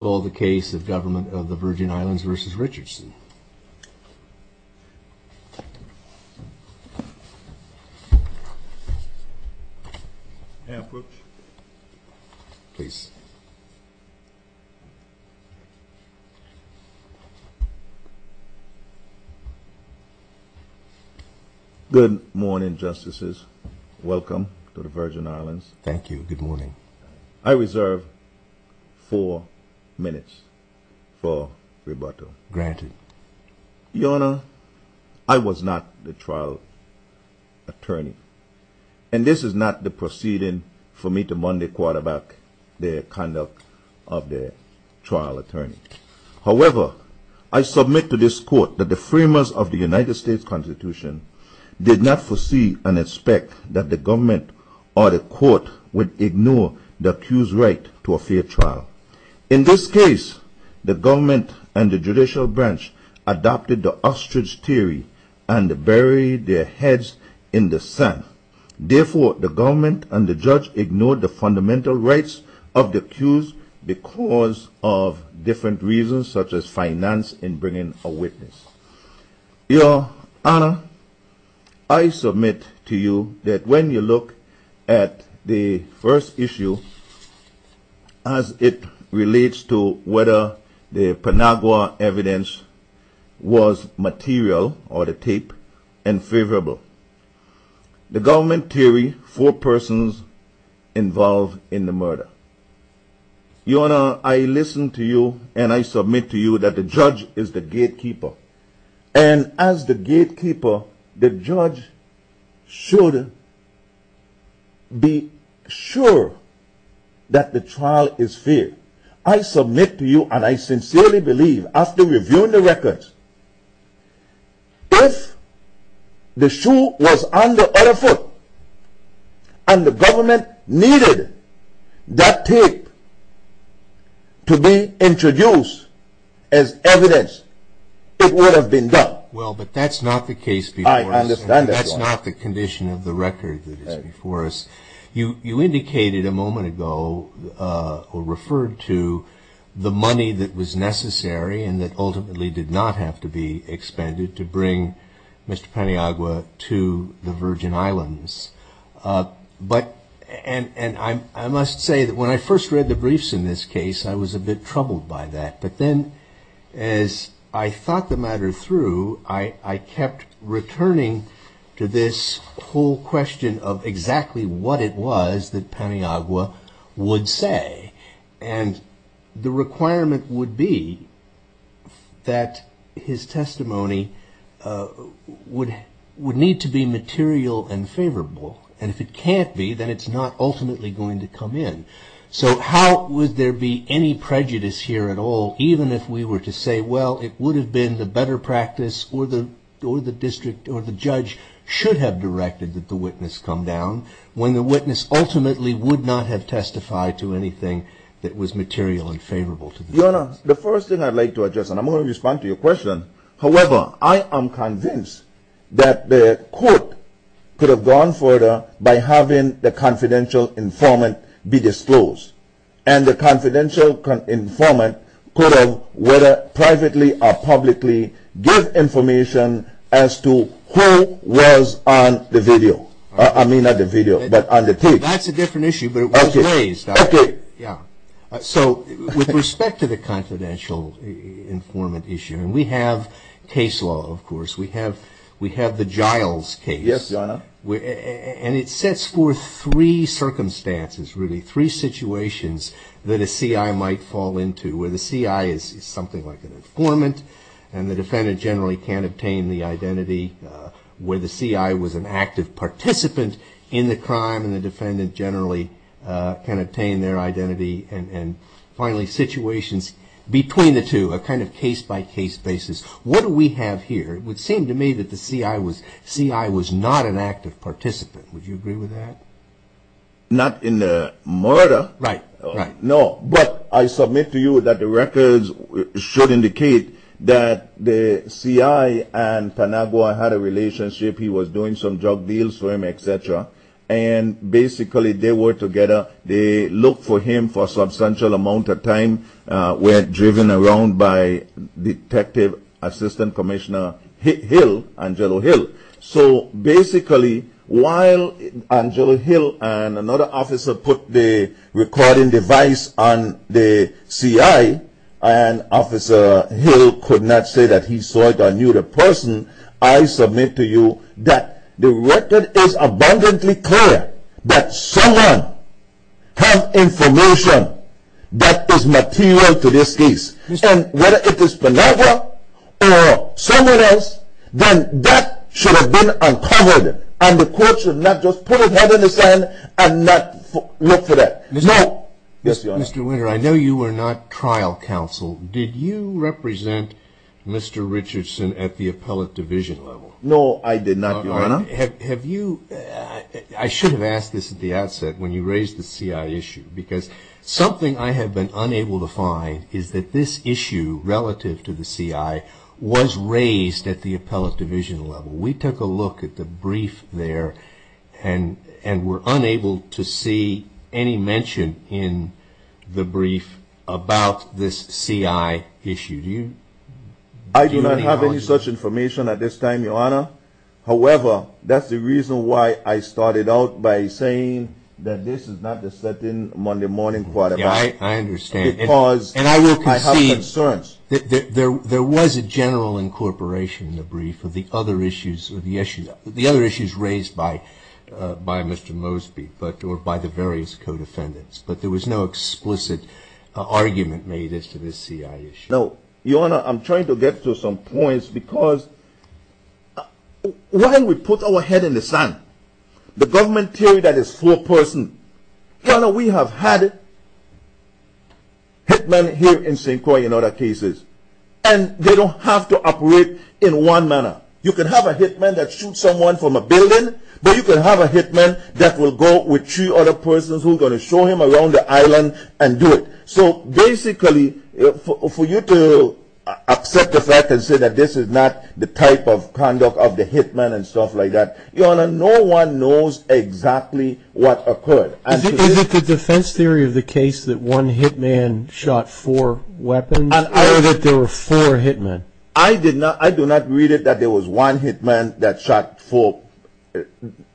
Good morning, Justices. Welcome to the Virgin Islands. Thank you. Good morning. I reserve four minutes for rebuttal. Granted. Your Honor, I was not the trial attorney. And this is not the proceeding for me to mundane quarterback the conduct of the trial attorney. However, I submit to this court that the framers of the United States Constitution did not foresee and expect that the government or the court would ignore the accused right to a fair trial. In this case, the government and the judicial branch adopted the ostrich theory and buried their heads in the sand. Therefore, the government and the judge ignored the fundamental rights of the accused because of different reasons such as finance in bringing a witness. Your Honor, I submit to you that when you look at the first issue as it relates to whether the Panagua evidence was material or the tape and favorable, the government theory four persons involved in the murder. Your Honor, I listen to you and I submit to you that the judge is the gatekeeper. And as the gatekeeper, the judge should be sure that the trial is fair. I submit to you and I sincerely believe after reviewing the records, if the shoe was on the other foot and the government needed that tape to be introduced as evidence, it would have been done. Well, but that's not the case before us. I understand that, Your Honor. That's not the condition of the record that is before us. You indicated a moment ago or referred to the money that was necessary and that ultimately did not have to be expended to bring Mr. Paniagua to the Virgin Islands. And I must say that when I first read the briefs in this case, I was a bit troubled by that. But then as I thought the matter through, I kept returning to this whole question of exactly what it was that Paniagua would say. And the requirement would be that his testimony would need to be material and favorable. And if it can't be, then it's not ultimately going to come in. So how would there be any prejudice here at all, even if we were to say, well, it would have been the better practice or the district or the judge should have directed that the witness come down, when the witness ultimately would not have testified to anything that was material and favorable to them? Your Honor, the first thing I'd like to address, and I'm going to respond to your question. However, I am convinced that the court could have gone further by having the confidential informant be disclosed. And the confidential informant could have, whether privately or publicly, give information as to who was on the video. I mean, not the video, but on the page. That's a different issue, but it was raised. Okay. Yeah. So with respect to the confidential informant issue, and we have case law, of course. We have the Giles case. Yes, Your Honor. And it sets forth three circumstances, really, three situations that a C.I. might fall into, where the C.I. is something like an informant, and the defendant generally can't obtain the identity, where the C.I. was an active participant in the crime, and the defendant generally can't obtain their identity, and finally, situations between the two, a kind of case-by-case basis. What do we have here? It would seem to me that the C.I. was not an active participant. Would you agree with that? Not in the murder. Right, right. No, but I submit to you that the records should indicate that the C.I. and Tanagawa had a relationship. He was doing some drug deals for him, et cetera, and basically they were together. They looked for him for a substantial amount of time, were driven around by Detective Assistant Commissioner Hill, Angelo Hill. So basically, while Angelo Hill and another officer put the recording device on the C.I., and Officer Hill could not say that he saw it or knew the person, I submit to you that the record is abundantly clear that someone had information that is material to this case, and whether it is Tanagawa or someone else, then that should have been uncovered, and the court should not just put his head in the sand and not look for that. Mr. Winter, I know you were not trial counsel. Did you represent Mr. Richardson at the appellate division level? No, I did not, Your Honor. I should have asked this at the outset when you raised the C.I. issue, because something I have been unable to find is that this issue relative to the C.I. was raised at the appellate division level. We took a look at the brief there and were unable to see any mention in the brief about this C.I. issue. I do not have any such information at this time, Your Honor. However, that is the reason why I started out by saying that this is not the certain Monday morning quarterback. I understand. Because I have concerns. There was a general incorporation in the brief of the other issues raised by Mr. Mosby, or by the various co-defendants, but there was no explicit argument made as to this C.I. issue. No, Your Honor, I am trying to get to some points because while we put our head in the sand, the government theory that is full person, Your Honor, we have had hitmen here in St. Croix in other cases, and they don't have to operate in one manner. You can have a hitman that shoots someone from a building, but you can have a hitman that will go with three other persons who are going to show him around the island and do it. So basically, for you to accept the fact and say that this is not the type of conduct of the hitman and stuff like that, Your Honor, no one knows exactly what occurred. Is it the defense theory of the case that one hitman shot four weapons? I heard that there were four hitmen. I do not read it that there was one hitman that shot four hitmen.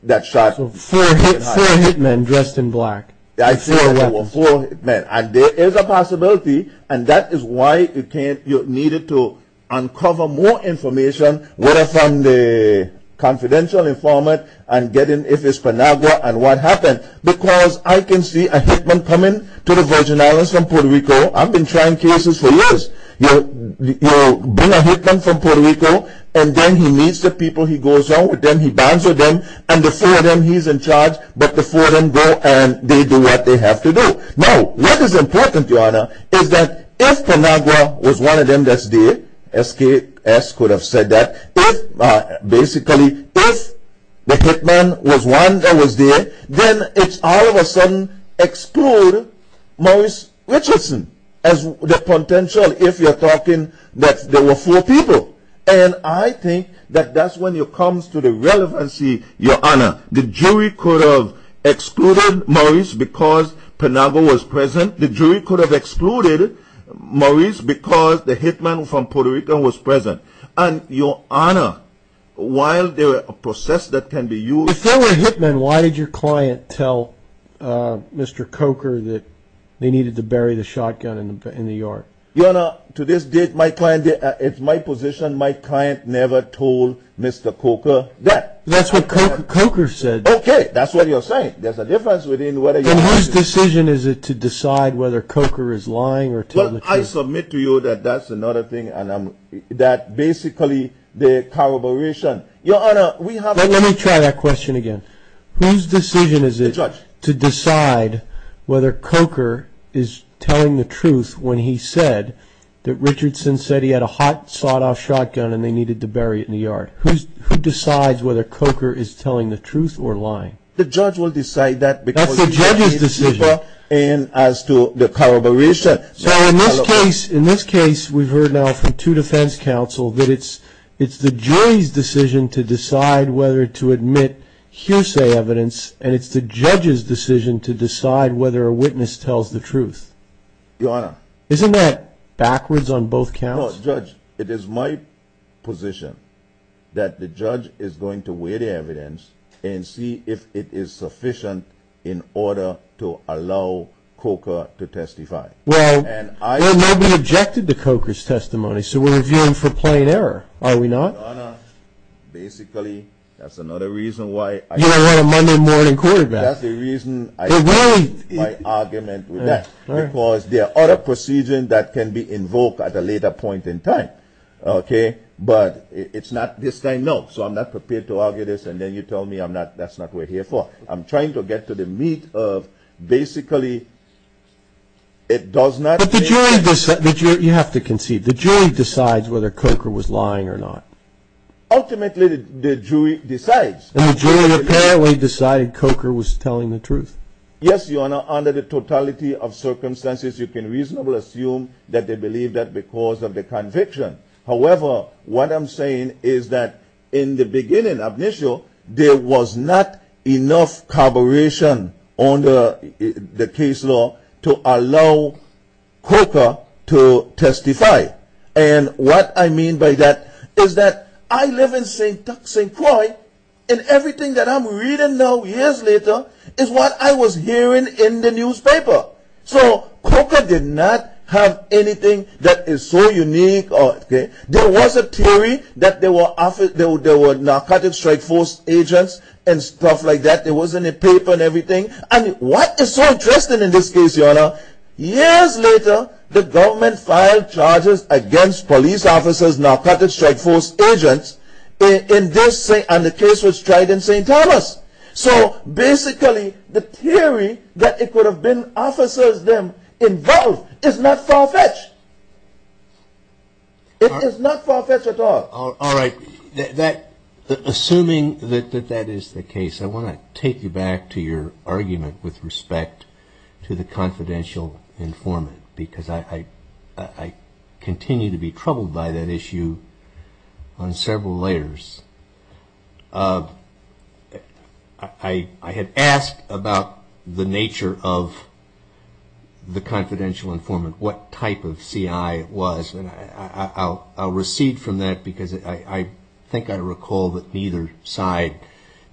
Four hitmen dressed in black. I say there were four hitmen, and there is a possibility, and that is why you needed to uncover more information whether from the confidential informant and get in if it is Penagua and what happened. Because I can see a hitman coming to the Virgin Islands from Puerto Rico. I have been trying cases for years. You bring a hitman from Puerto Rico, and then he meets the people he goes on with, then he bonds with them, and the four of them, he is in charge, but the four of them go and they do what they have to do. Now, what is important, Your Honor, is that if Penagua was one of them that is there, SKS could have said that, basically, if the hitman was one that was there, then it all of a sudden excludes Maurice Richardson as the potential if you are talking that there were four people. And I think that that is when it comes to the relevancy, Your Honor. The jury could have excluded Maurice because Penagua was present. The jury could have excluded Maurice because the hitman from Puerto Rico was present. And, Your Honor, while there is a process that can be used... If there were hitmen, why did your client tell Mr. Coker that they needed to bury the shotgun in the yard? Your Honor, to this date, my client, it is my position, my client never told Mr. Coker that. That is what Coker said. Okay, that is what you are saying. There is a difference between whether... Then whose decision is it to decide whether Coker is lying or telling the truth? Well, I submit to you that that is another thing and that basically the corroboration... Your Honor, we have... Let me try that question again. Whose decision is it to decide whether Coker is telling the truth when he said that Richardson said he had a hot, sawed-off shotgun and they needed to bury it in the yard? Who decides whether Coker is telling the truth or lying? The judge will decide that because... That is the judge's decision. ...as to the corroboration. So, in this case, we have heard now from two defense counsel that it is the jury's decision to decide whether to admit hearsay evidence and it is the judge's decision to decide whether a witness tells the truth. Your Honor... Isn't that backwards on both counts? No, Judge, it is my position that the judge is going to weigh the evidence and see if it is sufficient in order to allow Coker to testify. Well, nobody objected to Coker's testimony, so we are viewing for plain error, are we not? Your Honor, basically, that is another reason why... You don't want a Monday morning quarterback. ...my argument with that, because there are other procedures that can be invoked at a later point in time, okay? But it is not this time, no. So, I am not prepared to argue this and then you tell me that is not what you are here for. I am trying to get to the meat of, basically, it does not... But the jury, you have to concede, the jury decides whether Coker was lying or not. Ultimately, the jury decides. And the jury apparently decided Coker was telling the truth. Yes, Your Honor, under the totality of circumstances, you can reasonably assume that they believe that because of the conviction. However, what I am saying is that in the beginning, initial, there was not enough corroboration on the case law to allow Coker to testify. And what I mean by that is that I live in St. Tuck, St. Croix and everything that I am reading now, years later, is what I was hearing in the newspaper. So, Coker did not have anything that is so unique. There was a theory that there were narcotic strike force agents and stuff like that. There wasn't a paper and everything. And what is so interesting in this case, Your Honor, years later, the government filed charges against police officers, narcotic strike force agents, and the case was tried in St. Thomas. So, basically, the theory that it could have been officers involved is not far-fetched. It is not far-fetched at all. All right. Assuming that that is the case, I want to take you back to your argument with respect to the confidential informant, because I continue to be troubled by that issue on several layers. I had asked about the nature of the confidential informant, what type of CI it was. And I'll recede from that because I think I recall that neither side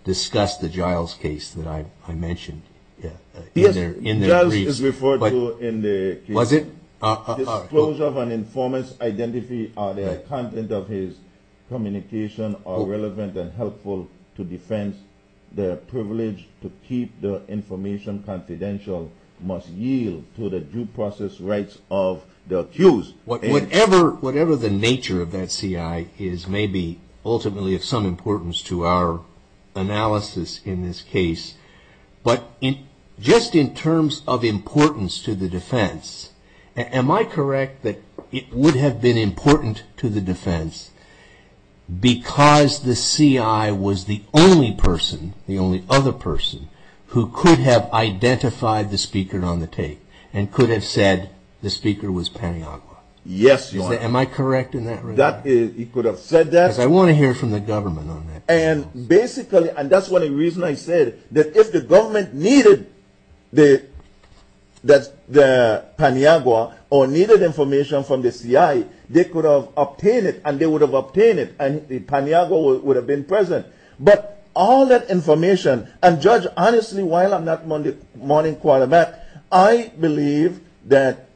discussed the Giles case that I mentioned in their brief. Yes, sir. Giles is referred to in the case. Was it? Disclosure of an informant's identity or the content of his communication are relevant and helpful to defense. Their privilege to keep their information confidential must yield to the due process rights of the accused. Whatever the nature of that CI is, may be ultimately of some importance to our analysis in this case. But just in terms of importance to the defense, am I correct that it would have been important to the defense because the CI was the only person, the only other person, who could have identified the speaker on the tape and could have said the speaker was Paniagua? Yes, your honor. Am I correct in that regard? You could have said that. Because I want to hear from the government on that. And basically, and that's one of the reasons I said that if the government needed the Paniagua or needed information from the CI, they could have obtained it and they would have obtained it and the Paniagua would have been present. But all that information, and Judge, honestly, while I'm not mourning quite a bit, I believe that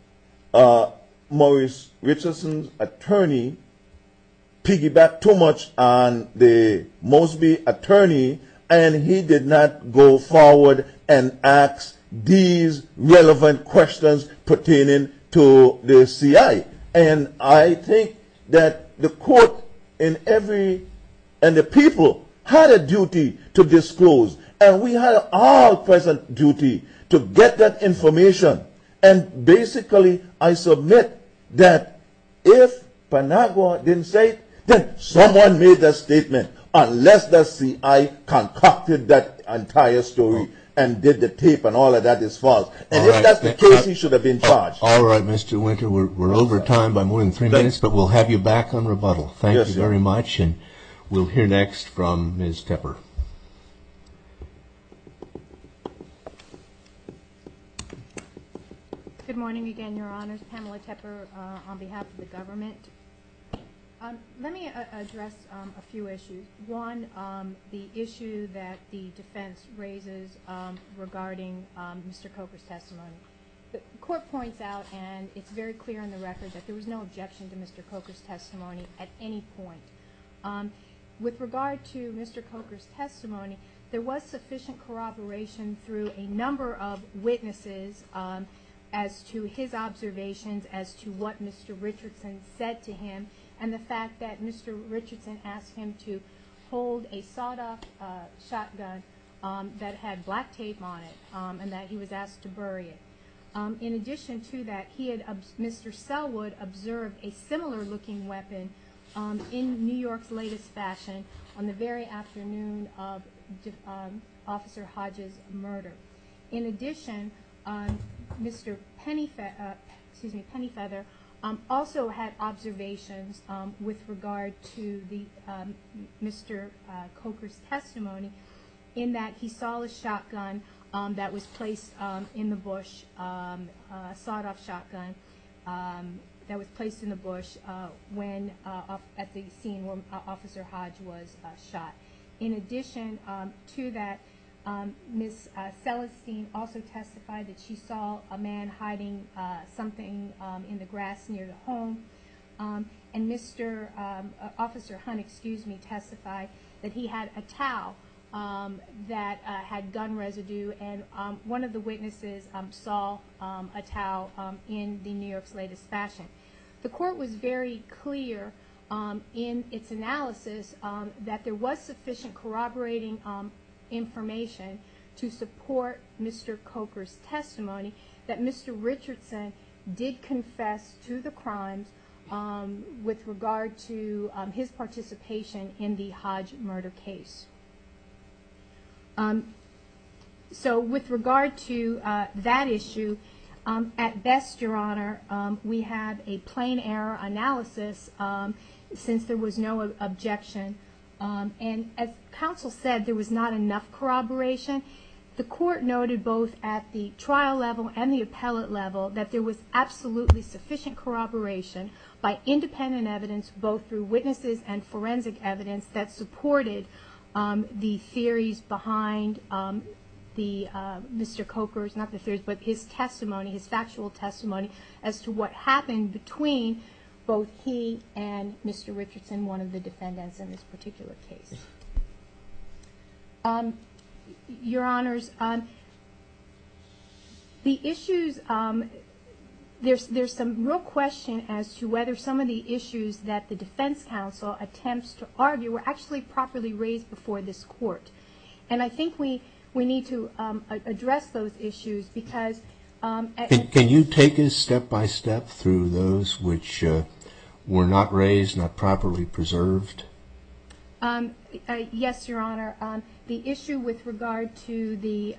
Maurice Richardson's attorney piggybacked too much on the Mosby attorney and he did not go forward and ask these relevant questions pertaining to the CI. And I think that the court and the people had a duty to disclose. And we had our present duty to get that information. And basically, I submit that if Paniagua didn't say it, then someone made the statement unless the CI concocted that entire story and did the tape and all of that is false. And if that's the case, he should have been charged. All right, Mr. Winter, we're over time by more than three minutes, but we'll have you back on rebuttal. Thank you very much. And we'll hear next from Ms. Tepper. Good morning again, your honors. Pamela Tepper on behalf of the government. Let me address a few issues. One, the issue that the defense raises regarding Mr. Coker's testimony. The court points out, and it's very clear on the record, that there was no objection to Mr. Coker's testimony at any point. With regard to Mr. Coker's testimony, there was sufficient corroboration through a number of witnesses as to his observations as to what Mr. Richardson said to him and the fact that Mr. Richardson asked him to hold a sawed-off shotgun that had black tape on it and that he was asked to bury it. In addition to that, Mr. Selwood observed a similar-looking weapon in New York's latest fashion on the very afternoon of Officer Hodge's murder. In addition, Mr. Pennyfeather also had observations with regard to Mr. Coker's testimony in that he saw a shotgun that was placed in the bush, a sawed-off shotgun that was placed in the bush at the scene where Officer Hodge was shot. In addition to that, Ms. Celestine also testified that she saw a man hiding something in the grass near the home, and Officer Hunt testified that he had a towel that had gun residue, and one of the witnesses saw a towel in New York's latest fashion. The court was very clear in its analysis that there was sufficient corroborating information to support Mr. Coker's testimony that Mr. Richardson did confess to the crimes with regard to his participation in the Hodge murder case. So with regard to that issue, at best, Your Honor, we have a plain error analysis since there was no objection, and as counsel said, there was not enough corroboration. The court noted both at the trial level and the appellate level that there was absolutely sufficient corroboration by independent evidence, both through witnesses and forensic evidence, that supported the theories behind Mr. Coker's, not the theories, but his testimony, his factual testimony as to what happened between both he and Mr. Richardson, one of the defendants in this particular case. Your Honors, the issues, there's some real question as to whether some of the issues that the defense counsel attempts to argue were actually properly raised before this court, and I think we need to address those issues because... Can you take us step-by-step through those which were not raised, not properly preserved? Yes, Your Honor. The issue with regard to the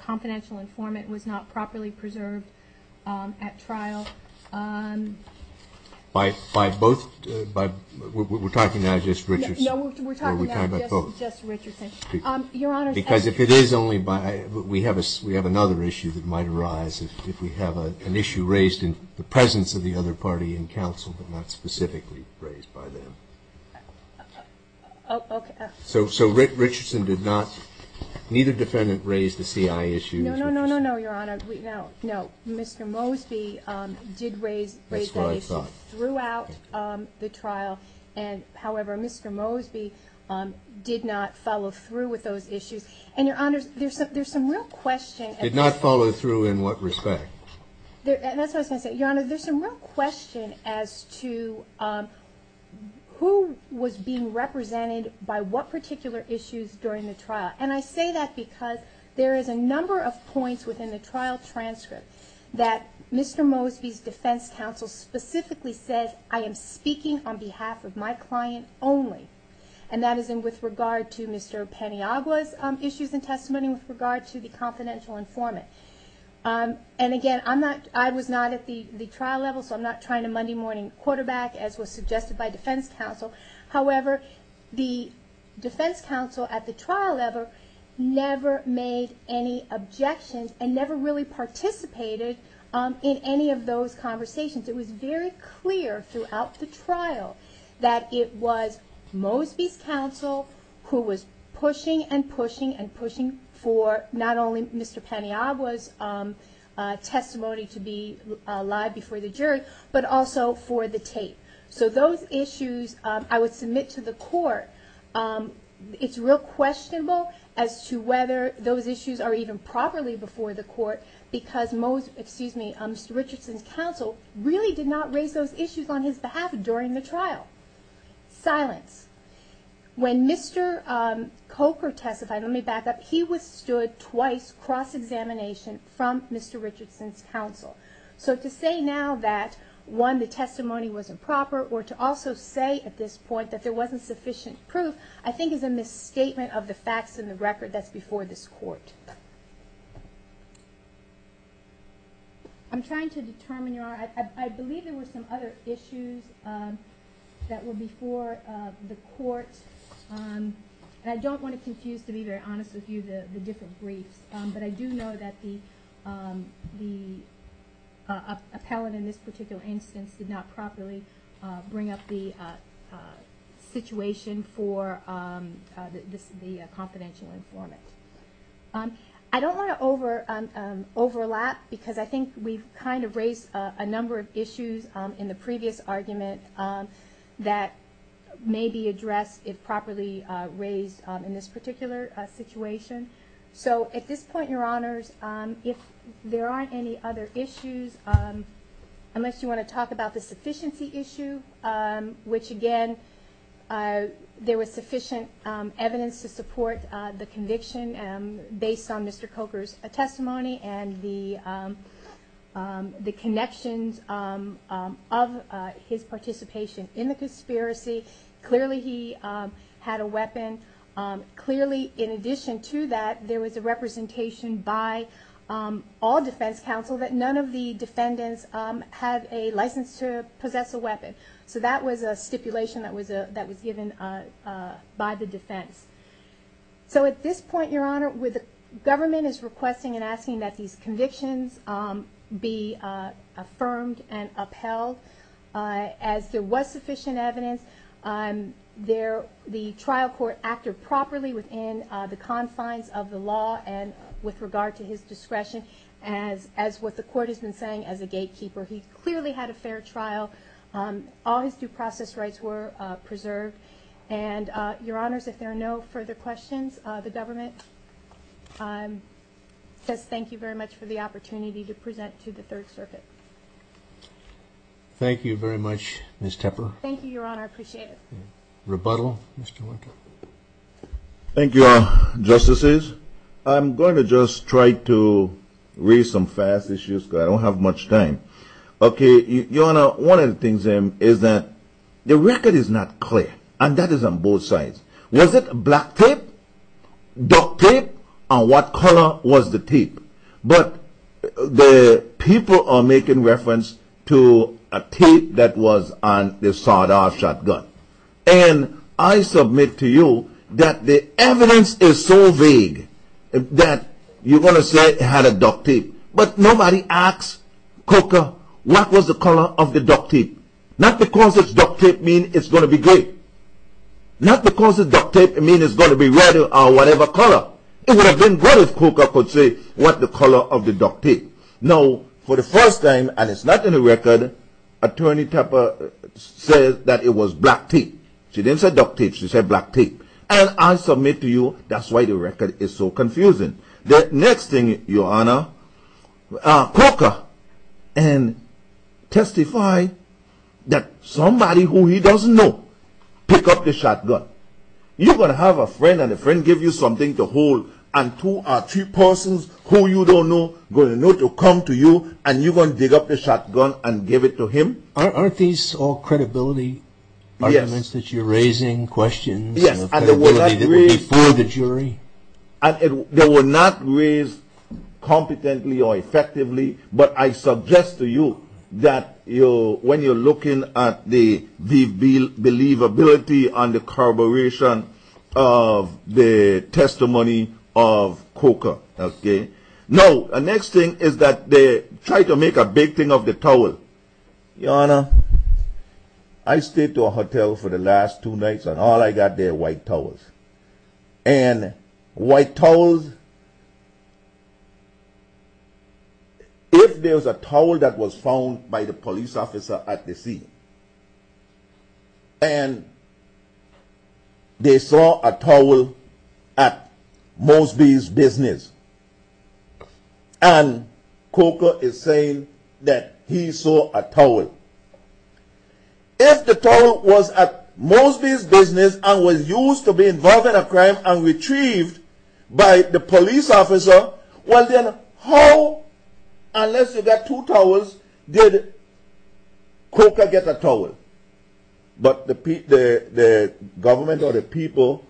confidential informant was not properly preserved at trial. By both, we're talking now just Richardson? No, we're talking now just Richardson. Because if it is only by, we have another issue that might arise if we have an issue raised in the presence of the other party in counsel but not specifically raised by them. So Richardson did not, neither defendant raised the CIA issue? No, no, no, no, Your Honor. No, Mr. Mosby did raise that issue throughout the trial. However, Mr. Mosby did not follow through with those issues. And, Your Honors, there's some real question... Did not follow through in what respect? That's what I was going to say. Your Honor, there's some real question as to who was being represented by what particular issues during the trial. And I say that because there is a number of points within the trial transcript that Mr. Mosby's defense counsel specifically says, I am speaking on behalf of my client only, and that is with regard to Mr. Paniagua's issues and testimony with regard to the confidential informant. And again, I was not at the trial level, so I'm not trying to Monday morning quarterback, as was suggested by defense counsel. However, the defense counsel at the trial level never made any objections and never really participated in any of those conversations. It was very clear throughout the trial that it was Mosby's counsel who was pushing and pushing and pushing for not only Mr. Paniagua's testimony to be live before the jury, but also for the tape. So those issues I would submit to the court. It's real questionable as to whether those issues are even properly before the court because Mr. Richardson's counsel really did not raise those issues on his behalf during the trial. Silence. When Mr. Coker testified, let me back up, he withstood twice cross-examination from Mr. Richardson's counsel. So to say now that, one, the testimony was improper, or to also say at this point that there wasn't sufficient proof, I think is a misstatement of the facts and the record that's before this court. I'm trying to determine your... I believe there were some other issues that were before the court, and I don't want to confuse, to be very honest with you, the different briefs, but I do know that the appellant in this particular instance did not properly bring up the situation for the confidential informant. I don't want to overlap because I think we've kind of raised a number of issues in the previous argument that may be addressed if properly raised in this particular situation. So at this point, Your Honors, if there aren't any other issues, unless you want to talk about the sufficiency issue, which, again, there was sufficient evidence to support the conviction based on Mr. Coker's testimony and the connections of his participation in the conspiracy. Clearly, he had a weapon. Clearly, in addition to that, there was a representation by all defense counsel that none of the defendants had a license to possess a weapon. So that was a stipulation that was given by the defense. So at this point, Your Honor, the government is requesting and asking that these convictions be affirmed and upheld. As there was sufficient evidence, the trial court acted properly within the confines of the law and with regard to his discretion as what the court has been saying as a gatekeeper. He clearly had a fair trial. All his due process rights were preserved. And, Your Honors, if there are no further questions, the government says thank you very much for the opportunity to present to the Third Circuit. Thank you very much, Ms. Tepper. Thank you, Your Honor. I appreciate it. Rebuttal, Mr. Lincoln. Thank you, Your Justices. I'm going to just try to raise some fast issues because I don't have much time. Okay, Your Honor, one of the things is that the record is not clear. And that is on both sides. Was it black tape, duct tape, or what color was the tape? But the people are making reference to a tape that was on the sawed-off shotgun. And I submit to you that the evidence is so vague that you're going to say it had a duct tape. But nobody asked Coker what was the color of the duct tape. Not because duct tape means it's going to be gray. Not because duct tape means it's going to be red or whatever color. It would have been good if Coker could say what the color of the duct tape. Now, for the first time, and it's not in the record, Attorney Tepper says that it was black tape. She didn't say duct tape. She said black tape. And I submit to you that's why the record is so confusing. The next thing, Your Honor, Coker testified that somebody who he doesn't know picked up the shotgun. You're going to have a friend, and the friend gives you something to hold, and two or three persons who you don't know are going to know to come to you, and you're going to dig up the shotgun and give it to him? Aren't these all credibility arguments that you're raising, questions of credibility that were before the jury? Yes, and they were not raised competently or effectively. But I suggest to you that when you're looking at the believability and the corroboration of the testimony of Coker. Now, the next thing is that they tried to make a big thing of the towel. Your Honor, I stayed to a hotel for the last two nights, and all I got there were white towels. And white towels, if there was a towel that was found by the police officer at the scene, and they saw a towel at Mosby's business, and Coker is saying that he saw a towel. If the towel was at Mosby's business and was used to be involved in a crime and retrieved by the police officer, well then how, unless you got two towels, did Coker get a towel? But the government or the people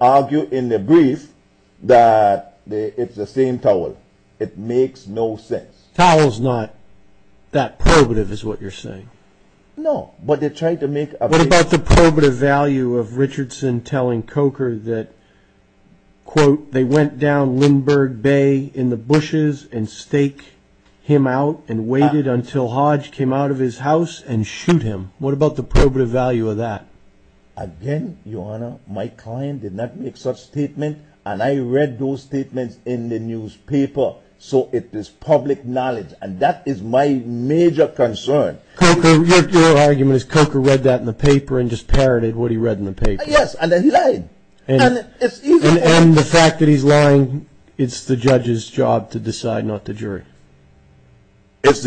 argue in the brief that it's the same towel. It makes no sense. Towel's not that probative is what you're saying? No, but they tried to make a big thing... What about the probative value of Richardson telling Coker that, quote, they went down Lindbergh Bay in the bushes and stake him out and waited until Hodge came out of his house and shoot him. What about the probative value of that? Again, Your Honor, my client did not make such statement, and I read those statements in the newspaper. So it is public knowledge, and that is my major concern. Your argument is Coker read that in the paper and just parroted what he read in the paper. Yes, and then he lied. And the fact that he's lying, it's the judge's job to decide, not the jury. It's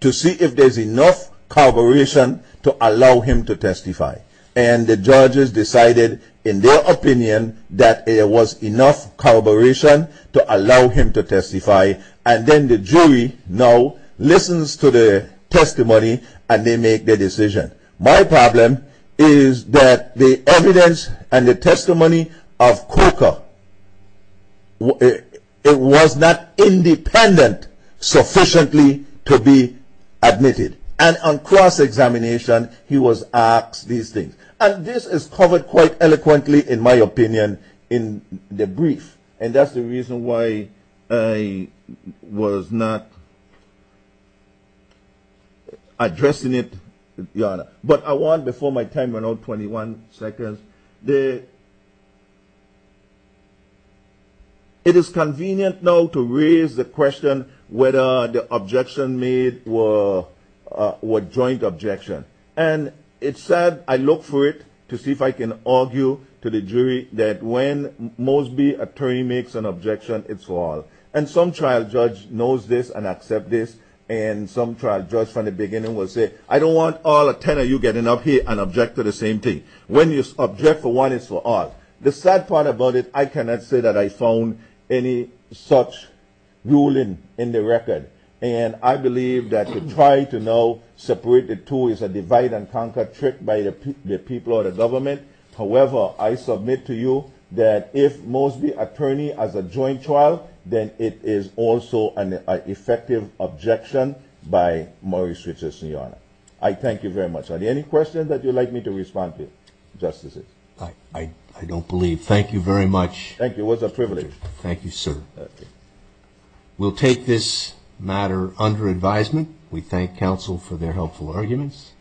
to see if there's enough corroboration to allow him to testify. And the judges decided in their opinion that there was enough corroboration to allow him to testify. And then the jury now listens to the testimony, and they make the decision. My problem is that the evidence and the testimony of Coker, it was not independent sufficiently to be admitted. And on cross-examination, he was asked these things. And this is covered quite eloquently, in my opinion, in the brief. And that's the reason why I was not addressing it, Your Honor. But I want, before my time runs out, 21 seconds. It is convenient now to raise the question whether the objection made were joint objections. And it's sad. I look for it to see if I can argue to the jury that when Mosby attorney makes an objection, it's for all. And some trial judge knows this and accepts this. And some trial judge from the beginning will say, I don't want all 10 of you getting up here and object to the same thing. When you object for one, it's for all. The sad part about it, I cannot say that I found any such ruling in the record. And I believe that to try to now separate the two is a divide-and-conquer trick by the people or the government. However, I submit to you that if Mosby attorney has a joint trial, then it is also an effective objection by Morris Richardson, Your Honor. I thank you very much. Are there any questions that you'd like me to respond to, Justices? I don't believe. Thank you very much. Thank you. It was a privilege. Thank you, sir. We'll take this matter under advisement. We thank counsel for their helpful arguments.